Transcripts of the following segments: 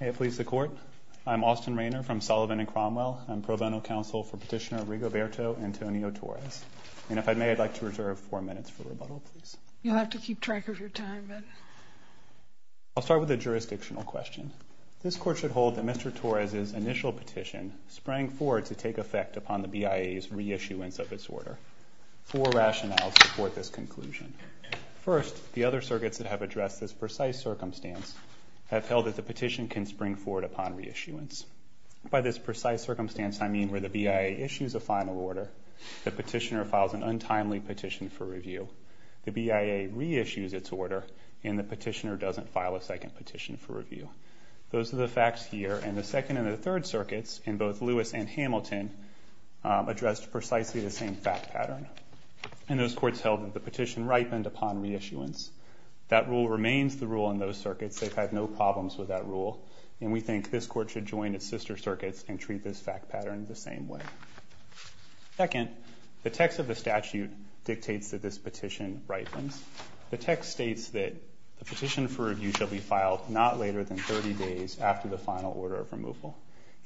May it please the court. I'm Austin Rainer from Sullivan and Cromwell. I'm pro bono counsel for petitioner Rigoberto Antonio Torres and if I may I'd like to reserve four minutes for rebuttal please. You'll have to keep track of your time. I'll start with a jurisdictional question. This court should hold that Mr. Torres's initial petition sprang forward to take effect upon the BIA's reissuance of its order. Four rationales support this conclusion. First, the other circuits that have addressed this precise circumstance have held that the petition can spring forward upon reissuance. By this precise circumstance I mean where the BIA issues a final order, the petitioner files an untimely petition for review, the BIA reissues its order, and the petitioner doesn't file a second petition for review. Those are the facts here and the second and the third circuits in both Lewis and Hamilton addressed precisely the same fact pattern. And those courts held that the petition ripened upon reissuance. That rule remains the rule in those circuits. They've had no problems with that rule and we think this court should join its sister circuits and treat this fact pattern the same way. Second, the text of the statute dictates that this petition ripens. The text states that the petition for review shall be filed not later than 30 days after the final order of removal.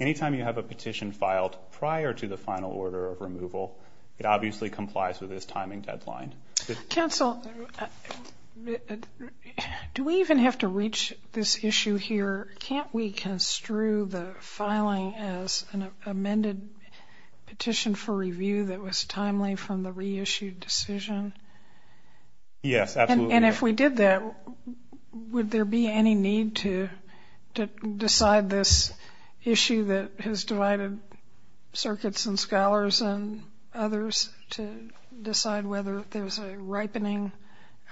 Anytime you have a petition filed prior to the final order of removal it obviously complies with this timing deadline. Counsel, do we even have to reach this issue here? Can't we construe the filing as an amended petition for review that was timely from the reissued decision? Yes, absolutely. And if we did that would there be any need to decide this issue that has divided circuits and scholars and others to decide whether there's a ripening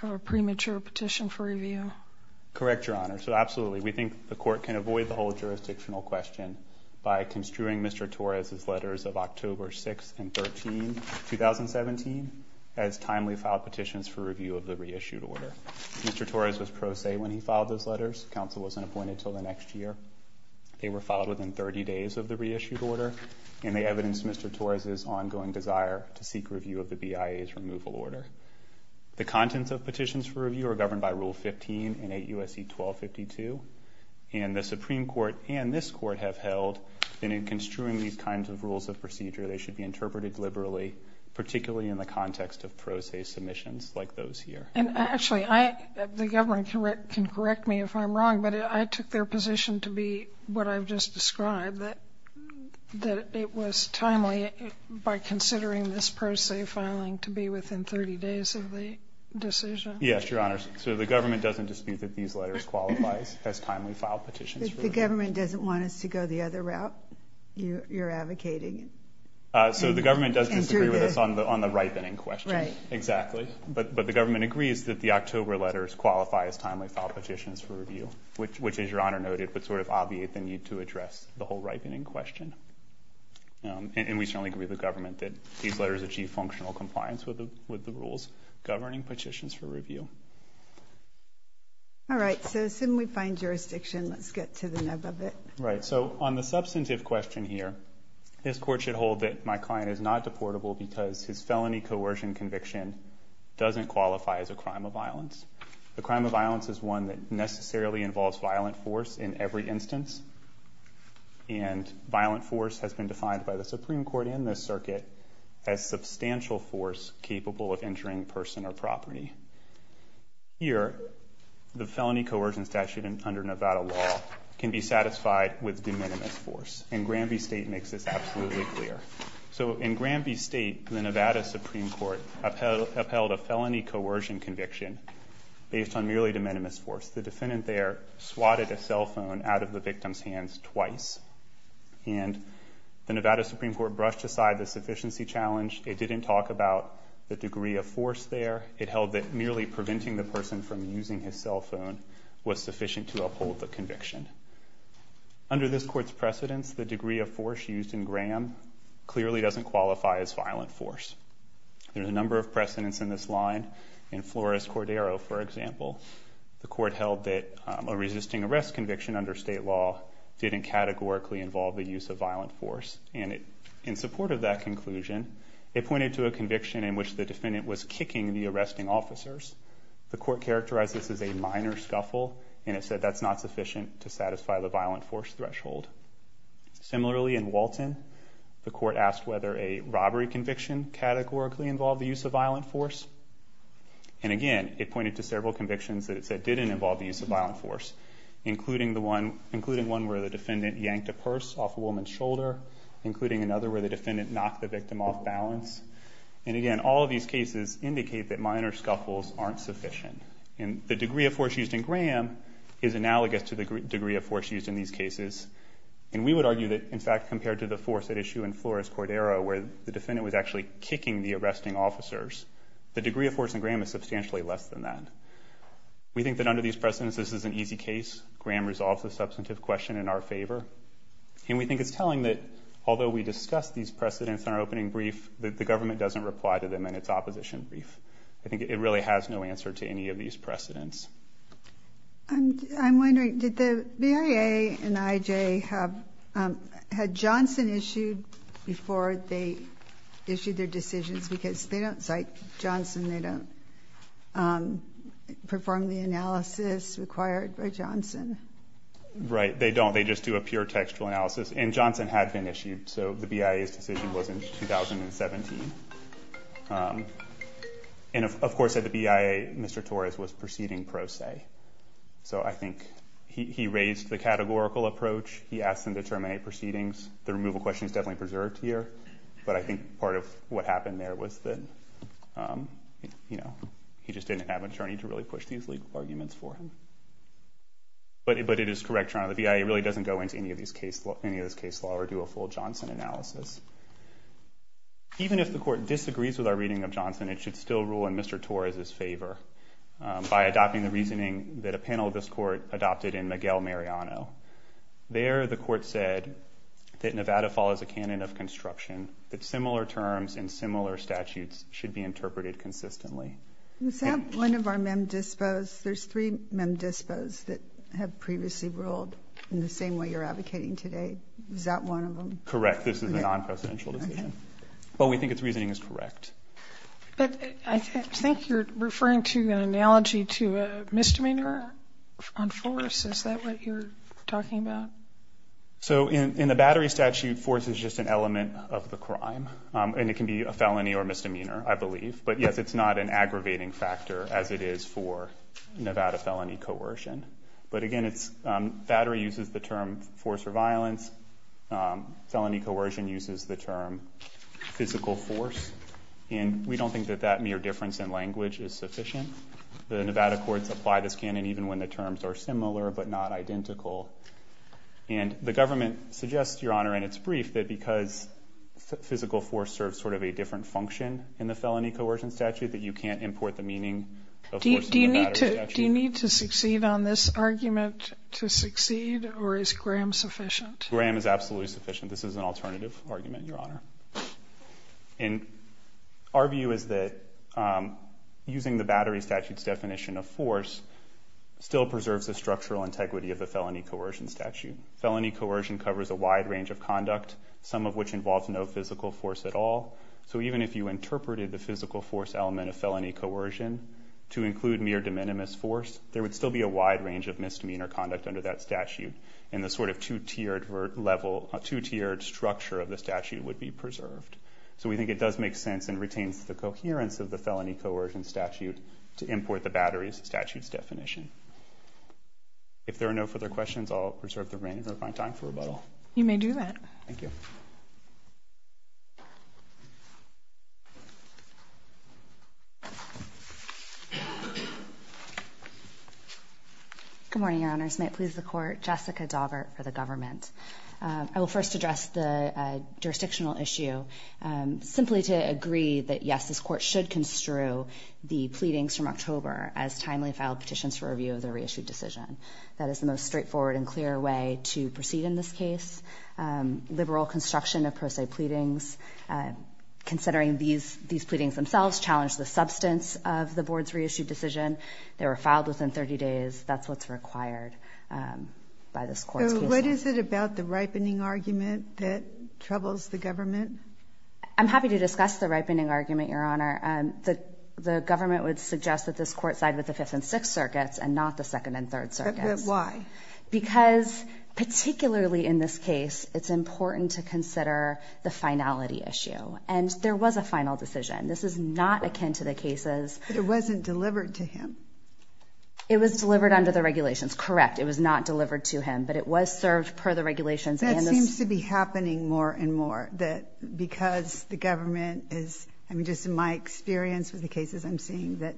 of a premature petition for review? We think the court can avoid the whole jurisdictional question by construing Mr. Torres' letters of October 6 and 13, 2017 as timely filed petitions for review of the reissued order. Mr. Torres was pro se when he filed those letters. Counsel wasn't appointed until the next year. They were filed within 30 days of the reissued order and they evidenced Mr. Torres' ongoing desire to seek review of the BIA's removal order. The contents of Supreme Court and this court have held that in construing these kinds of rules of procedure they should be interpreted liberally, particularly in the context of pro se submissions like those here. And actually, the government can correct me if I'm wrong, but I took their position to be what I've just described, that it was timely by considering this pro se filing to be within 30 days of the decision. Yes, Your Honor. So the government doesn't dispute that these The government doesn't want us to go the other route you're advocating? So the government does disagree with us on the ripening question. Right. Exactly. But the government agrees that the October letters qualify as timely filed petitions for review, which, as Your Honor noted, would sort of obviate the need to address the whole ripening question. And we certainly agree with the government that these letters achieve functional compliance with the governing petitions for review. All right, so as soon we find jurisdiction, let's get to the nub of it. Right. So on the substantive question here, this court should hold that my client is not deportable because his felony coercion conviction doesn't qualify as a crime of violence. The crime of violence is one that necessarily involves violent force in every instance, and violent force has been defined by the Supreme Court in this circuit as substantial force capable of injuring person or property. Here, the felony coercion statute under Nevada law can be satisfied with de minimis force, and Granby State makes this absolutely clear. So in Granby State, the Nevada Supreme Court upheld a felony coercion conviction based on merely de minimis force. The defendant there swatted a cell phone out of the victim's hands twice, and the Nevada Supreme Court brushed aside the force there. It held that merely preventing the person from using his cell phone was sufficient to uphold the conviction. Under this court's precedents, the degree of force used in Graham clearly doesn't qualify as violent force. There's a number of precedents in this line. In Flores Cordero, for example, the court held that a resisting arrest conviction under state law didn't categorically involve the use of violent force. And in support of that conclusion, it pointed to a conviction in which the defendant was kicking the arresting officers. The court characterized this as a minor scuffle, and it said that's not sufficient to satisfy the violent force threshold. Similarly, in Walton, the court asked whether a robbery conviction categorically involved the use of violent force. And again, it pointed to several convictions that it said didn't involve the use of violent force, including one where the defendant yanked a purse off a woman's shoulder, including another where the defendant knocked the victim off balance. And again, all of these cases indicate that minor scuffles aren't sufficient. And the degree of force used in Graham is analogous to the degree of force used in these cases. And we would argue that, in fact, compared to the force at issue in Flores Cordero, where the defendant was actually kicking the arresting officers, the degree of force in Graham is substantially less than that. We think that under these precedents, this is an easy case. Graham resolves the substantive question in our favor. And we think it's telling that, although we discussed these precedents in our opening brief, that the government doesn't reply to them in its opposition brief. I think it really has no answer to any of these precedents. I'm wondering, did the BIA and IJ have had Johnson issued before they issued their decisions? Because they don't cite Johnson. They don't perform the analysis required by Johnson. Right. They don't. They just do a pure textual analysis. And Johnson had been issued. So the BIA's decision was in 2017. And, of course, at the BIA, Mr. Torres was proceeding pro se. So I think he raised the categorical approach. He asked them to terminate proceedings. The removal question is definitely preserved here. But I think part of what happened there was that, you know, he just didn't have an attorney to really push these legal arguments for him. But it is correct, Your Honor, the BIA really doesn't go into any of this case law or do a full Johnson analysis. Even if the court disagrees with our reading of Johnson, it should still rule in Mr. Torres's favor by adopting the reasoning that a panel of this court adopted in Miguel Mariano. There, the court said that Nevada follows a canon of construction, that similar terms and similar statutes should be interpreted consistently. Is that one of our mem dispos? There's three mem dispos that have previously ruled in the same way you're advocating today. Is that one of them? Correct. This is a non-presidential decision. But we think its reasoning is correct. But I think you're referring to an analogy to a misdemeanor on force. Is that what you're talking about? So in the battery statute, force is just an element of the crime. And it can be a felony or misdemeanor, I believe. But yes, it's not an aggravating factor, as it is for Nevada felony coercion. But again, battery uses the term force or violence. Felony coercion uses the term physical force. And we don't think that that mere difference in language is sufficient. The Nevada courts apply this canon even when the terms are similar but not identical. And the government suggests, Your Honor, in its brief, that because physical force serves sort of a different function in the felony coercion statute, that you can't import the meaning of force in the battery statute. Do you need to succeed on this argument to succeed? Or is Graham sufficient? Graham is absolutely sufficient. This is an alternative argument, Your Honor. And our view is that using the battery statute's definition of force still preserves the structural integrity of the felony coercion statute. Felony coercion covers a wide range of conduct, some of which involves no physical force at all. So even if you interpreted the physical force element of felony coercion to include mere de minimis force, there would still be a wide range of misdemeanor conduct under that statute. And the sort of two-tiered structure of the statute would be preserved. So we think it does make sense and retains the coherence of the felony coercion statute to import the battery statute's definition. If there are no further questions, I'll reserve the remainder of my time for rebuttal. You may do that. Thank you. Good morning, Your Honors. May it please the Court. Jessica Daughert for the government. I will first address the jurisdictional issue simply to agree that, yes, this Court should construe the pleadings from October as timely filed petitions for review of the reissued decision. That is the most straightforward and clear way to proceed in this case. Liberal construction of pro se pleadings, considering these these pleadings themselves challenge the substance of the board's reissued decision. They were filed within 30 days. That's what's required by this court. What is it about the ripening argument that troubles the government? I'm happy to discuss the ripening argument, Your Honor. The government would suggest that this court side with the Fifth and Sixth Circuits and not the Second and Third Circuit. Why? Because particularly in this case, it's important to consider the finality issue. And there was a final decision. This is not akin to the cases. But it wasn't delivered to him. It was delivered under the regulations. Correct. It was not delivered to him, but it was served per the regulations. That seems to be happening more and more that because the government is, I mean, just in my experience with the cases I'm seeing that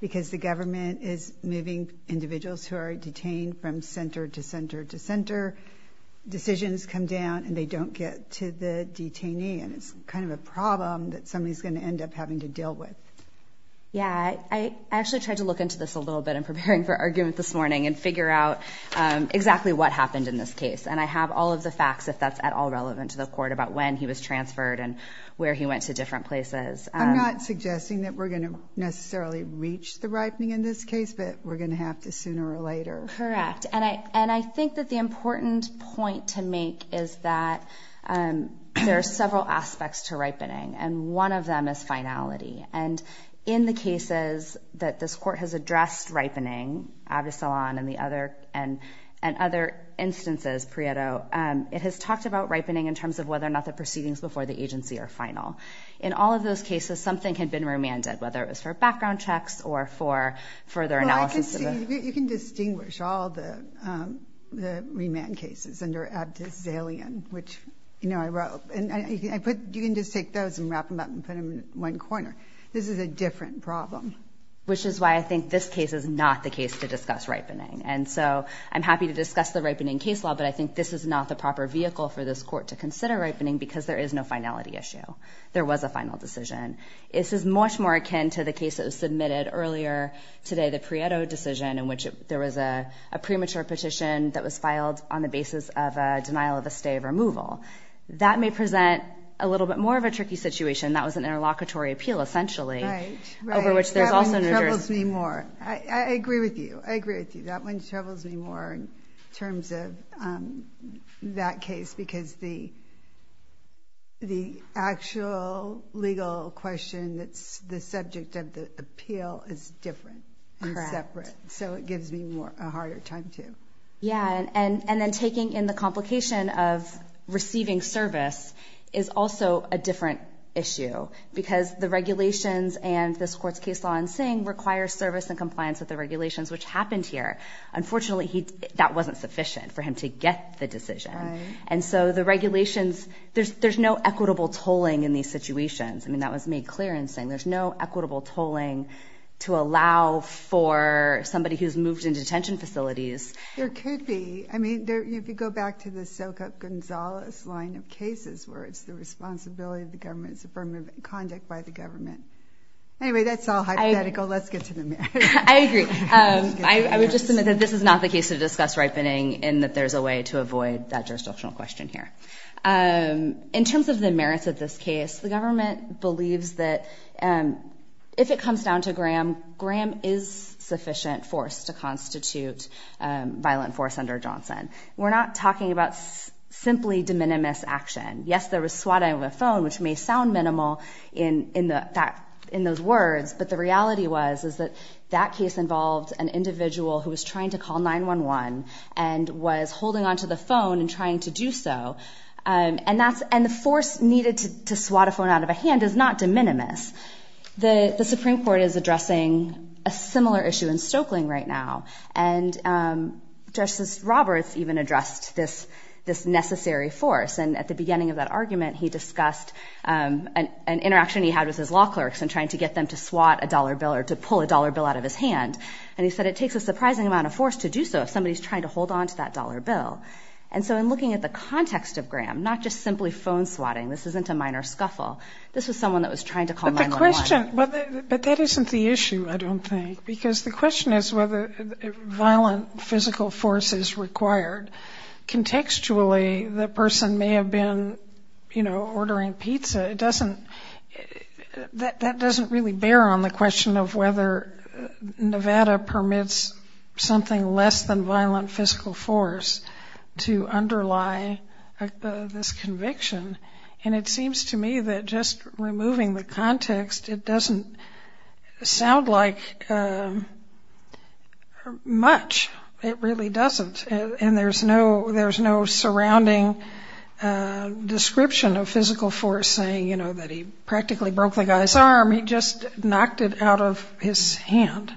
because the government is moving individuals who are detained from center to center to center, decisions come down and they don't get to the detainee. And it's kind of a problem that somebody is going to end up having to deal with. Yeah, I actually tried to look into this a little bit in preparing for argument this morning and figure out exactly what happened in this case. And I have all of the facts, if that's at all relevant to the court, about when he was transferred and where he went to different places. I'm not suggesting that we're going to necessarily reach the ripening in this case, but we're going to have to sooner or later. Correct. And I think that the important point to make is that there are several aspects to ripening, and one of them is finality. And in the cases that this court has addressed ripening, Abdus Salaam and other instances, Prieto, it has talked about ripening in terms of whether or not the proceedings before the agency are final. In all of those cases, something had been remanded, whether it was for background checks or for further analysis. You can distinguish all the remand cases under Abdus Salaam, which, you know, I wrote. You can just take those and wrap them up and put them in one corner. This is a different problem. Which is why I think this case is not the case to discuss ripening. And so I'm happy to discuss the ripening case law, but I think this is not the proper vehicle for this court to consider ripening because there is no finality issue. There was a final decision. This is much more akin to the case that was submitted earlier today, the Prieto decision, in which there was a premature petition that was filed on the basis of a denial of a stay of removal. That may present a little bit more of a tricky situation. That was an interlocutory appeal, essentially, over which there's also no jurisdiction. Right, right. That one troubles me more. I agree with you. I agree with you. That one troubles me more in terms of that legal question that's the subject of the appeal is different and separate. So it gives me a harder time, too. Yeah, and then taking in the complication of receiving service is also a different issue because the regulations and this court's case law in Singh requires service and compliance with the regulations, which happened here. Unfortunately, that wasn't sufficient for him to get the decision. And so the regulations, there's no equitable tolling in these situations. I mean, that was made clear in Singh. There's no equitable tolling to allow for somebody who's moved in detention facilities. There could be. I mean, if you go back to the Soka Gonzalez line of cases where it's the responsibility of the government, it's affirmative conduct by the government. Anyway, that's all hypothetical. Let's get to the matter. I agree. I would just submit that this is not the case to discuss ripening in that there's a way to avoid that jurisdictional question here. In terms of the merits of this case, the government believes that if it comes down to Graham, Graham is sufficient force to constitute violent force under Johnson. We're not talking about simply de minimis action. Yes, there was swatting of a phone, which may sound minimal in those words, but the reality was is that that case involved an individual who was trying to call 911 and was holding on to the phone and trying to do so. And the force needed to swat a phone out of a hand is not de minimis. The Supreme Court is addressing a similar issue in Stokeling right now. And Justice Roberts even addressed this necessary force. And at the beginning of that argument, he discussed an interaction he had with his law clerks in trying to get them to swat a dollar bill or to pull a dollar bill out of his hand. And he said it takes a surprising amount of force to do so if somebody's trying to hold on to that dollar bill. And so in looking at the context of Graham, not just simply phone swatting, this isn't a minor scuffle, this was someone that was trying to call 911. But the question, but that isn't the issue, I don't think, because the question is whether violent physical force is required. Contextually, the person may have been, you know, ordering pizza. It doesn't really bear on the question of whether Nevada permits something less than violent physical force to underlie this conviction. And it seems to me that just removing the context, it doesn't sound like much. It really doesn't. And there's no surrounding description of physical force saying, you know, he just knocked it out of his hand.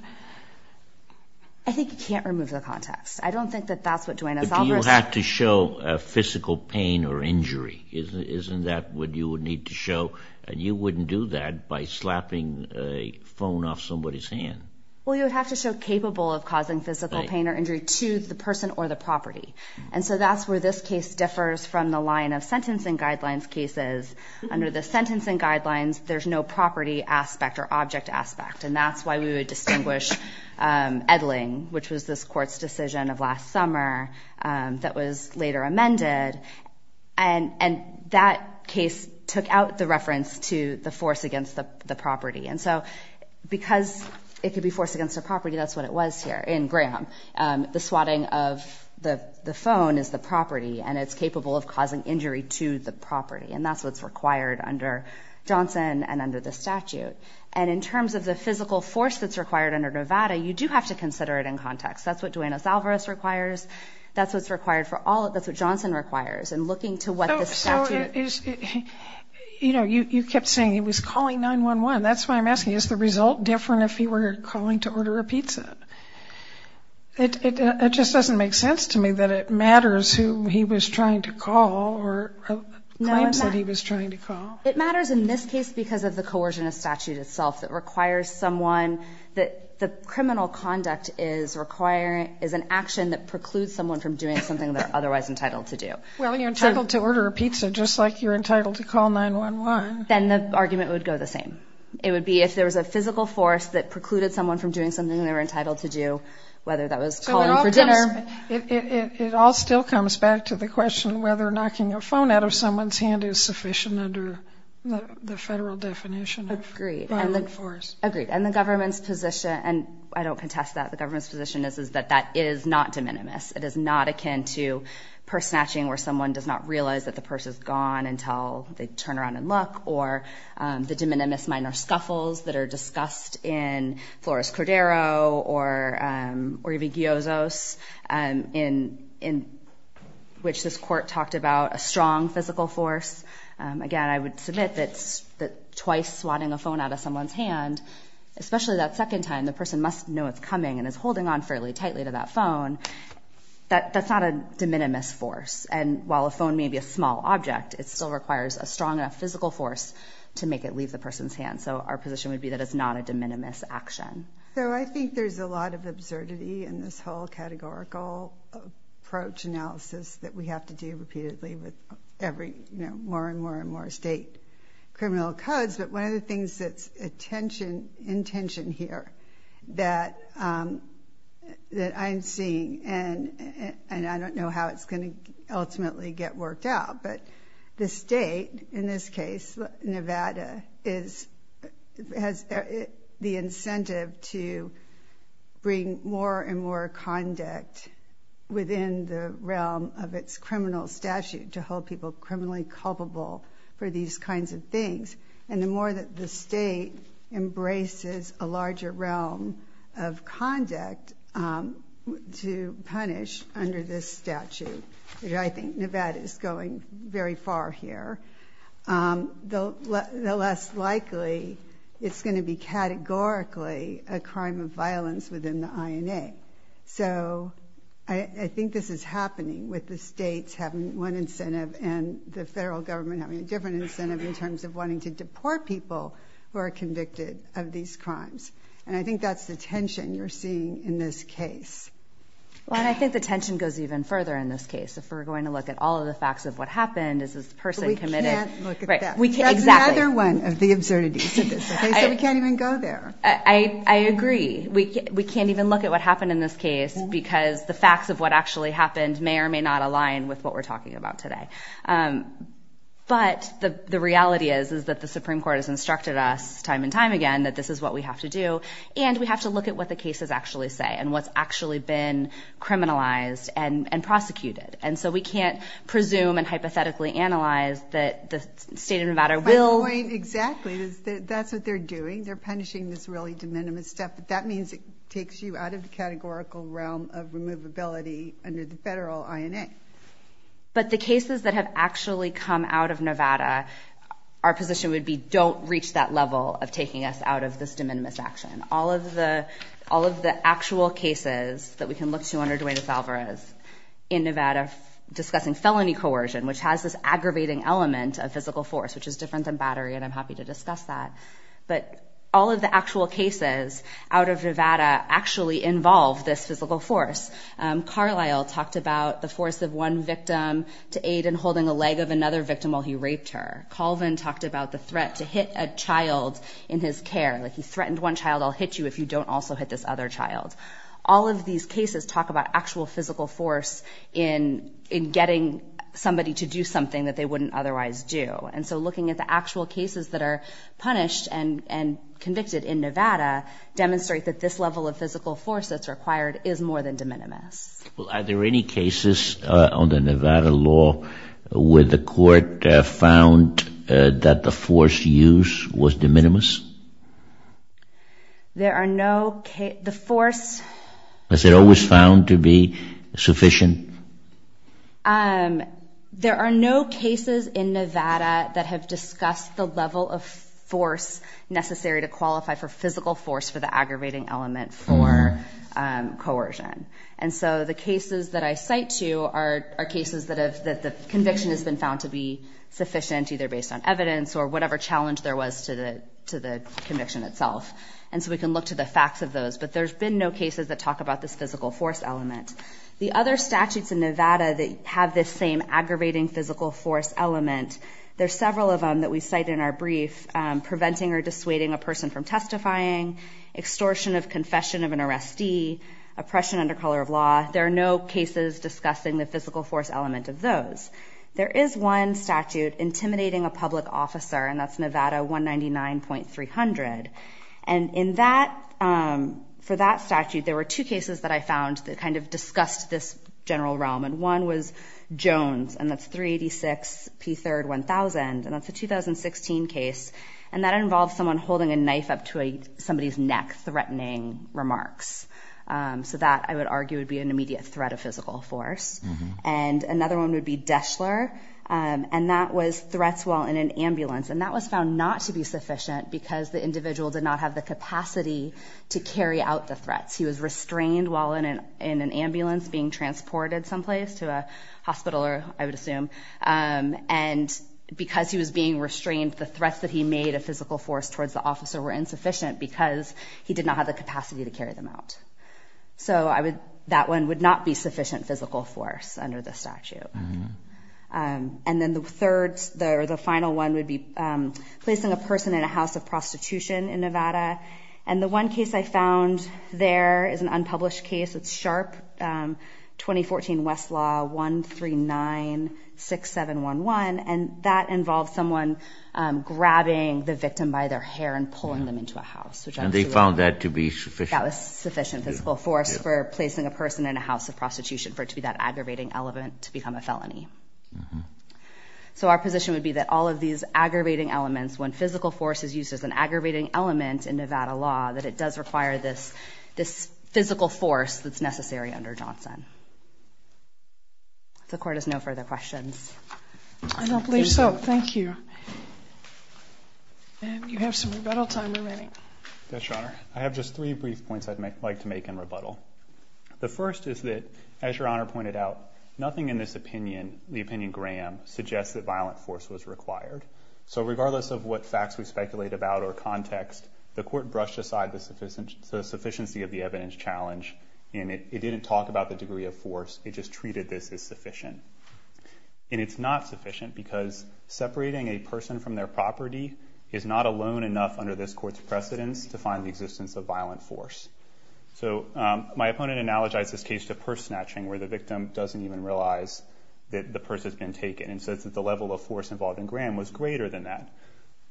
I think you can't remove the context. I don't think that that's what Dwayne is offering. You have to show a physical pain or injury. Isn't that what you would need to show? And you wouldn't do that by slapping a phone off somebody's hand. Well, you would have to show capable of causing physical pain or injury to the person or the property. And so that's where this case differs from the line of sentencing guidelines cases. Under the aspect or object aspect. And that's why we would distinguish Edling, which was this court's decision of last summer that was later amended. And that case took out the reference to the force against the property. And so because it could be forced against a property, that's what it was here in Graham. The swatting of the phone is the property and it's capable of causing injury to the property. And that's what's required under Johnson and under the statute. And in terms of the physical force that's required under Nevada, you do have to consider it in context. That's what Dwayne Alvarez requires. That's what's required for all that's what Johnson requires. And looking to what the statute is, you know, you kept saying he was calling 9-1-1. That's why I'm asking, is the result different if he were calling to order a pizza? It just doesn't make sense to me that it was trying to call. It matters in this case because of the coercion of statute itself that requires someone that the criminal conduct is requiring is an action that precludes someone from doing something they're otherwise entitled to do. Well you're entitled to order a pizza just like you're entitled to call 9-1-1. Then the argument would go the same. It would be if there was a physical force that precluded someone from doing something they were entitled to do, whether that was calling for dinner. It all still comes back to the question whether knocking a phone out of someone's hand is sufficient under the federal definition. Agreed. And the government's position, and I don't contest that, the government's position is that that is not de minimis. It is not akin to purse snatching where someone does not realize that the purse is gone until they turn around and look. Or the de minimis minor scuffles that are talked about, a strong physical force. Again I would submit that twice swatting a phone out of someone's hand, especially that second time the person must know it's coming and is holding on fairly tightly to that phone, that that's not a de minimis force. And while a phone may be a small object, it still requires a strong enough physical force to make it leave the person's hand. So our position would be that it's not a de minimis action. So I think there's a lot of absurdity in this whole categorical approach analysis that we have to do repeatedly with every, you know, more and more and more state criminal codes. But one of the things that's attention, intention here that, um, that I'm seeing and, and I don't know how it's going to ultimately get worked out, but the state in this case, Nevada, is, has the incentive to bring more and more conduct within the realm of its criminal statute to hold people criminally culpable for these kinds of things. And the more that the state embraces a larger realm of conduct, um, to punish under this statute, which I think Nevada is going very far here, um, the less likely it's going to be categorically a crime of I think this is happening with the states having one incentive and the federal government having a different incentive in terms of wanting to deport people who are convicted of these crimes. And I think that's the tension you're seeing in this case. Well, and I think the tension goes even further in this case. If we're going to look at all of the facts of what happened, is this person committed? We can't look at that. That's another one of the absurdities of this. So we can't even go there. I agree. We can't even look at what the facts of what actually happened may or may not align with what we're talking about today. Um, but the reality is, is that the Supreme Court has instructed us time and time again that this is what we have to do. And we have to look at what the cases actually say and what's actually been criminalized and prosecuted. And so we can't presume and hypothetically analyze that the state of Nevada will... My point exactly is that that's what they're doing. They're punishing this really de minimis stuff. But that means it takes you out of the categorical realm of removability under the federal INA. But the cases that have actually come out of Nevada, our position would be, don't reach that level of taking us out of this de minimis action. All of the, all of the actual cases that we can look to under Dwayne Alvarez in Nevada discussing felony coercion, which has this aggravating element of physical force, which is different than battery, and I'm happy to discuss that. But all of the actual cases out of Nevada actually involve this physical force. Carlisle talked about the force of one victim to aid in holding a leg of another victim while he raped her. Colvin talked about the threat to hit a child in his care, like he threatened one child, I'll hit you if you don't also hit this other child. All of these cases talk about actual physical force in, in getting somebody to do something that they wouldn't otherwise do. And so the cases that are listed in Nevada demonstrate that this level of physical force that's required is more than de minimis. Well, are there any cases on the Nevada law where the court found that the force used was de minimis? There are no case, the force... Was it always found to be sufficient? Um, there are no cases in Nevada that have discussed the level of force necessary to qualify for physical force for the aggravating element for coercion. And so the cases that I cite to are cases that have, that the conviction has been found to be sufficient, either based on evidence or whatever challenge there was to the, to the conviction itself. And so we can look to the facts of those, but there's been no cases that talk about this physical force element. The other statutes in Nevada that have this same aggravating physical force element, there's several of them that we cite in our brief, preventing or dissuading a person from testifying, extortion of confession of an arrestee, oppression under color of law. There are no cases discussing the physical force element of those. There is one statute intimidating a public officer, and that's Nevada 199.300. And in that, for that statute, there were two cases that I found that kind of discussed this general realm. And one was Jones, and that's 386 P. 3rd 1000. And that's a 2016 case, and that involves someone holding a knife up to somebody's neck, threatening remarks. So that, I would argue, would be an immediate threat of physical force. And another one would be Deshler. And that was threats while in an ambulance. And that was found not to be sufficient because the individual did not have the capacity to carry out the threats. He was restrained while in an, in an ambulance being transported someplace to a hospital, or I would restrain the threats that he made a physical force towards the officer were insufficient because he did not have the capacity to carry them out. So I would, that one would not be sufficient physical force under the statute. And then the third, the final one would be placing a person in a house of prostitution in Nevada. And the one case I found there is an unpublished case. It's Sharp 2014 Westlaw 1396711. And that involves someone grabbing the victim by their hair and pulling them into a house. And they found that to be sufficient. That was sufficient physical force for placing a person in a house of prostitution for it to be that aggravating element to become a felony. So our position would be that all of these aggravating elements, when physical force is used as an aggravating element in Nevada law, that it does not become a felony unless it's necessary under Johnson. The court has no further questions. I don't believe so. Thank you. And you have some rebuttal time remaining. Yes, Your Honor. I have just three brief points I'd like to make in rebuttal. The first is that, as Your Honor pointed out, nothing in this opinion, the opinion Graham, suggests that violent force was required. So regardless of what facts we speculate about or context, the court brushed aside the sufficient, the sufficiency of the evidence challenge, and it didn't talk about the degree of force. It just treated this as sufficient. And it's not sufficient because separating a person from their property is not alone enough under this court's precedence to find the existence of violent force. So my opponent analogized this case to purse snatching, where the victim doesn't even realize that the purse has been taken, and says that the level of force involved in Graham was greater than that.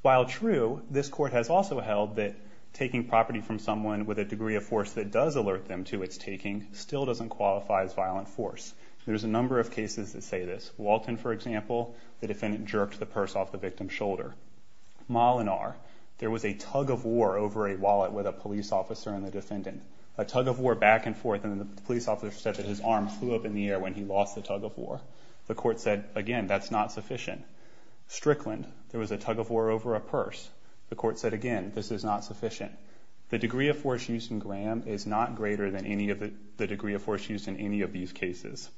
While true, this court has also held that taking property from someone with a gun that does alert them to its taking still doesn't qualify as violent force. There's a number of cases that say this. Walton, for example, the defendant jerked the purse off the victim's shoulder. Molinar, there was a tug of war over a wallet with a police officer and the defendant. A tug of war back and forth, and the police officer said that his arm flew up in the air when he lost the tug of war. The court said, again, that's not sufficient. Strickland, there was a tug of war over a purse. The court said, again, this is not sufficient. The degree of force used in Graham is not greater than any of the degree of force used in any of these cases.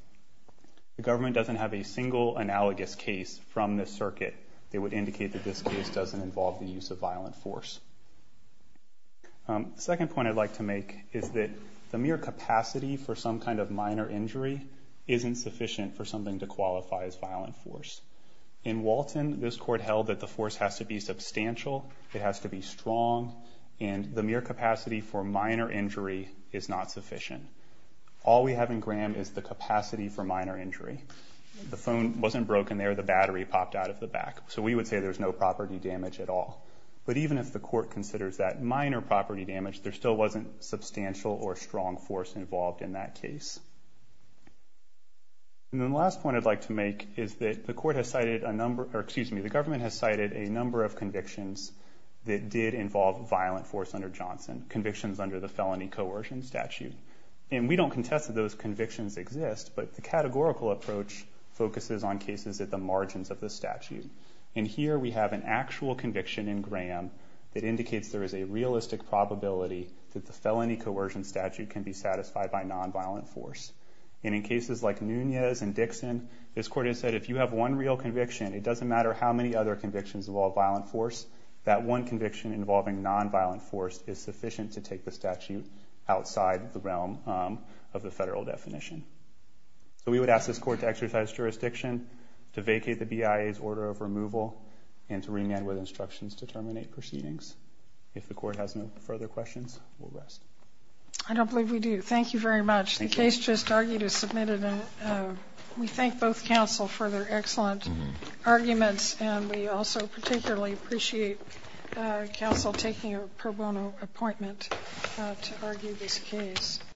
The government doesn't have a single analogous case from this circuit that would indicate that this case doesn't involve the use of violent force. Second point I'd like to make is that the mere capacity for some kind of minor injury isn't sufficient for something to qualify as violent force. In Walton, this court held that the force has to be substantial, it has to be strong, and the capacity for minor injury is not sufficient. All we have in Graham is the capacity for minor injury. The phone wasn't broken there, the battery popped out of the back. So we would say there's no property damage at all. But even if the court considers that minor property damage, there still wasn't substantial or strong force involved in that case. And then the last point I'd like to make is that the government has cited a number of convictions that did involve violent force under Johnson, convictions under the felony coercion statute. And we don't contest that those convictions exist, but the categorical approach focuses on cases at the margins of the statute. And here we have an actual conviction in Graham that indicates there is a realistic probability that the felony coercion statute can be satisfied by nonviolent force. And in cases like Nunez and Dixon, this court has said if you have one real conviction, it doesn't matter how many other convictions involve violent force, that one conviction involving nonviolent force is sufficient to take the statute outside the realm of the federal definition. So we would ask this court to exercise jurisdiction, to vacate the BIA's order of removal, and to remand with instructions to terminate proceedings. If the court has no further questions, we'll rest. I don't believe we do. Thank you very much. The case just argued is submitted, and we thank both counsel for their excellent arguments. And we also particularly appreciate counsel taking a pro bono appointment to argue this case.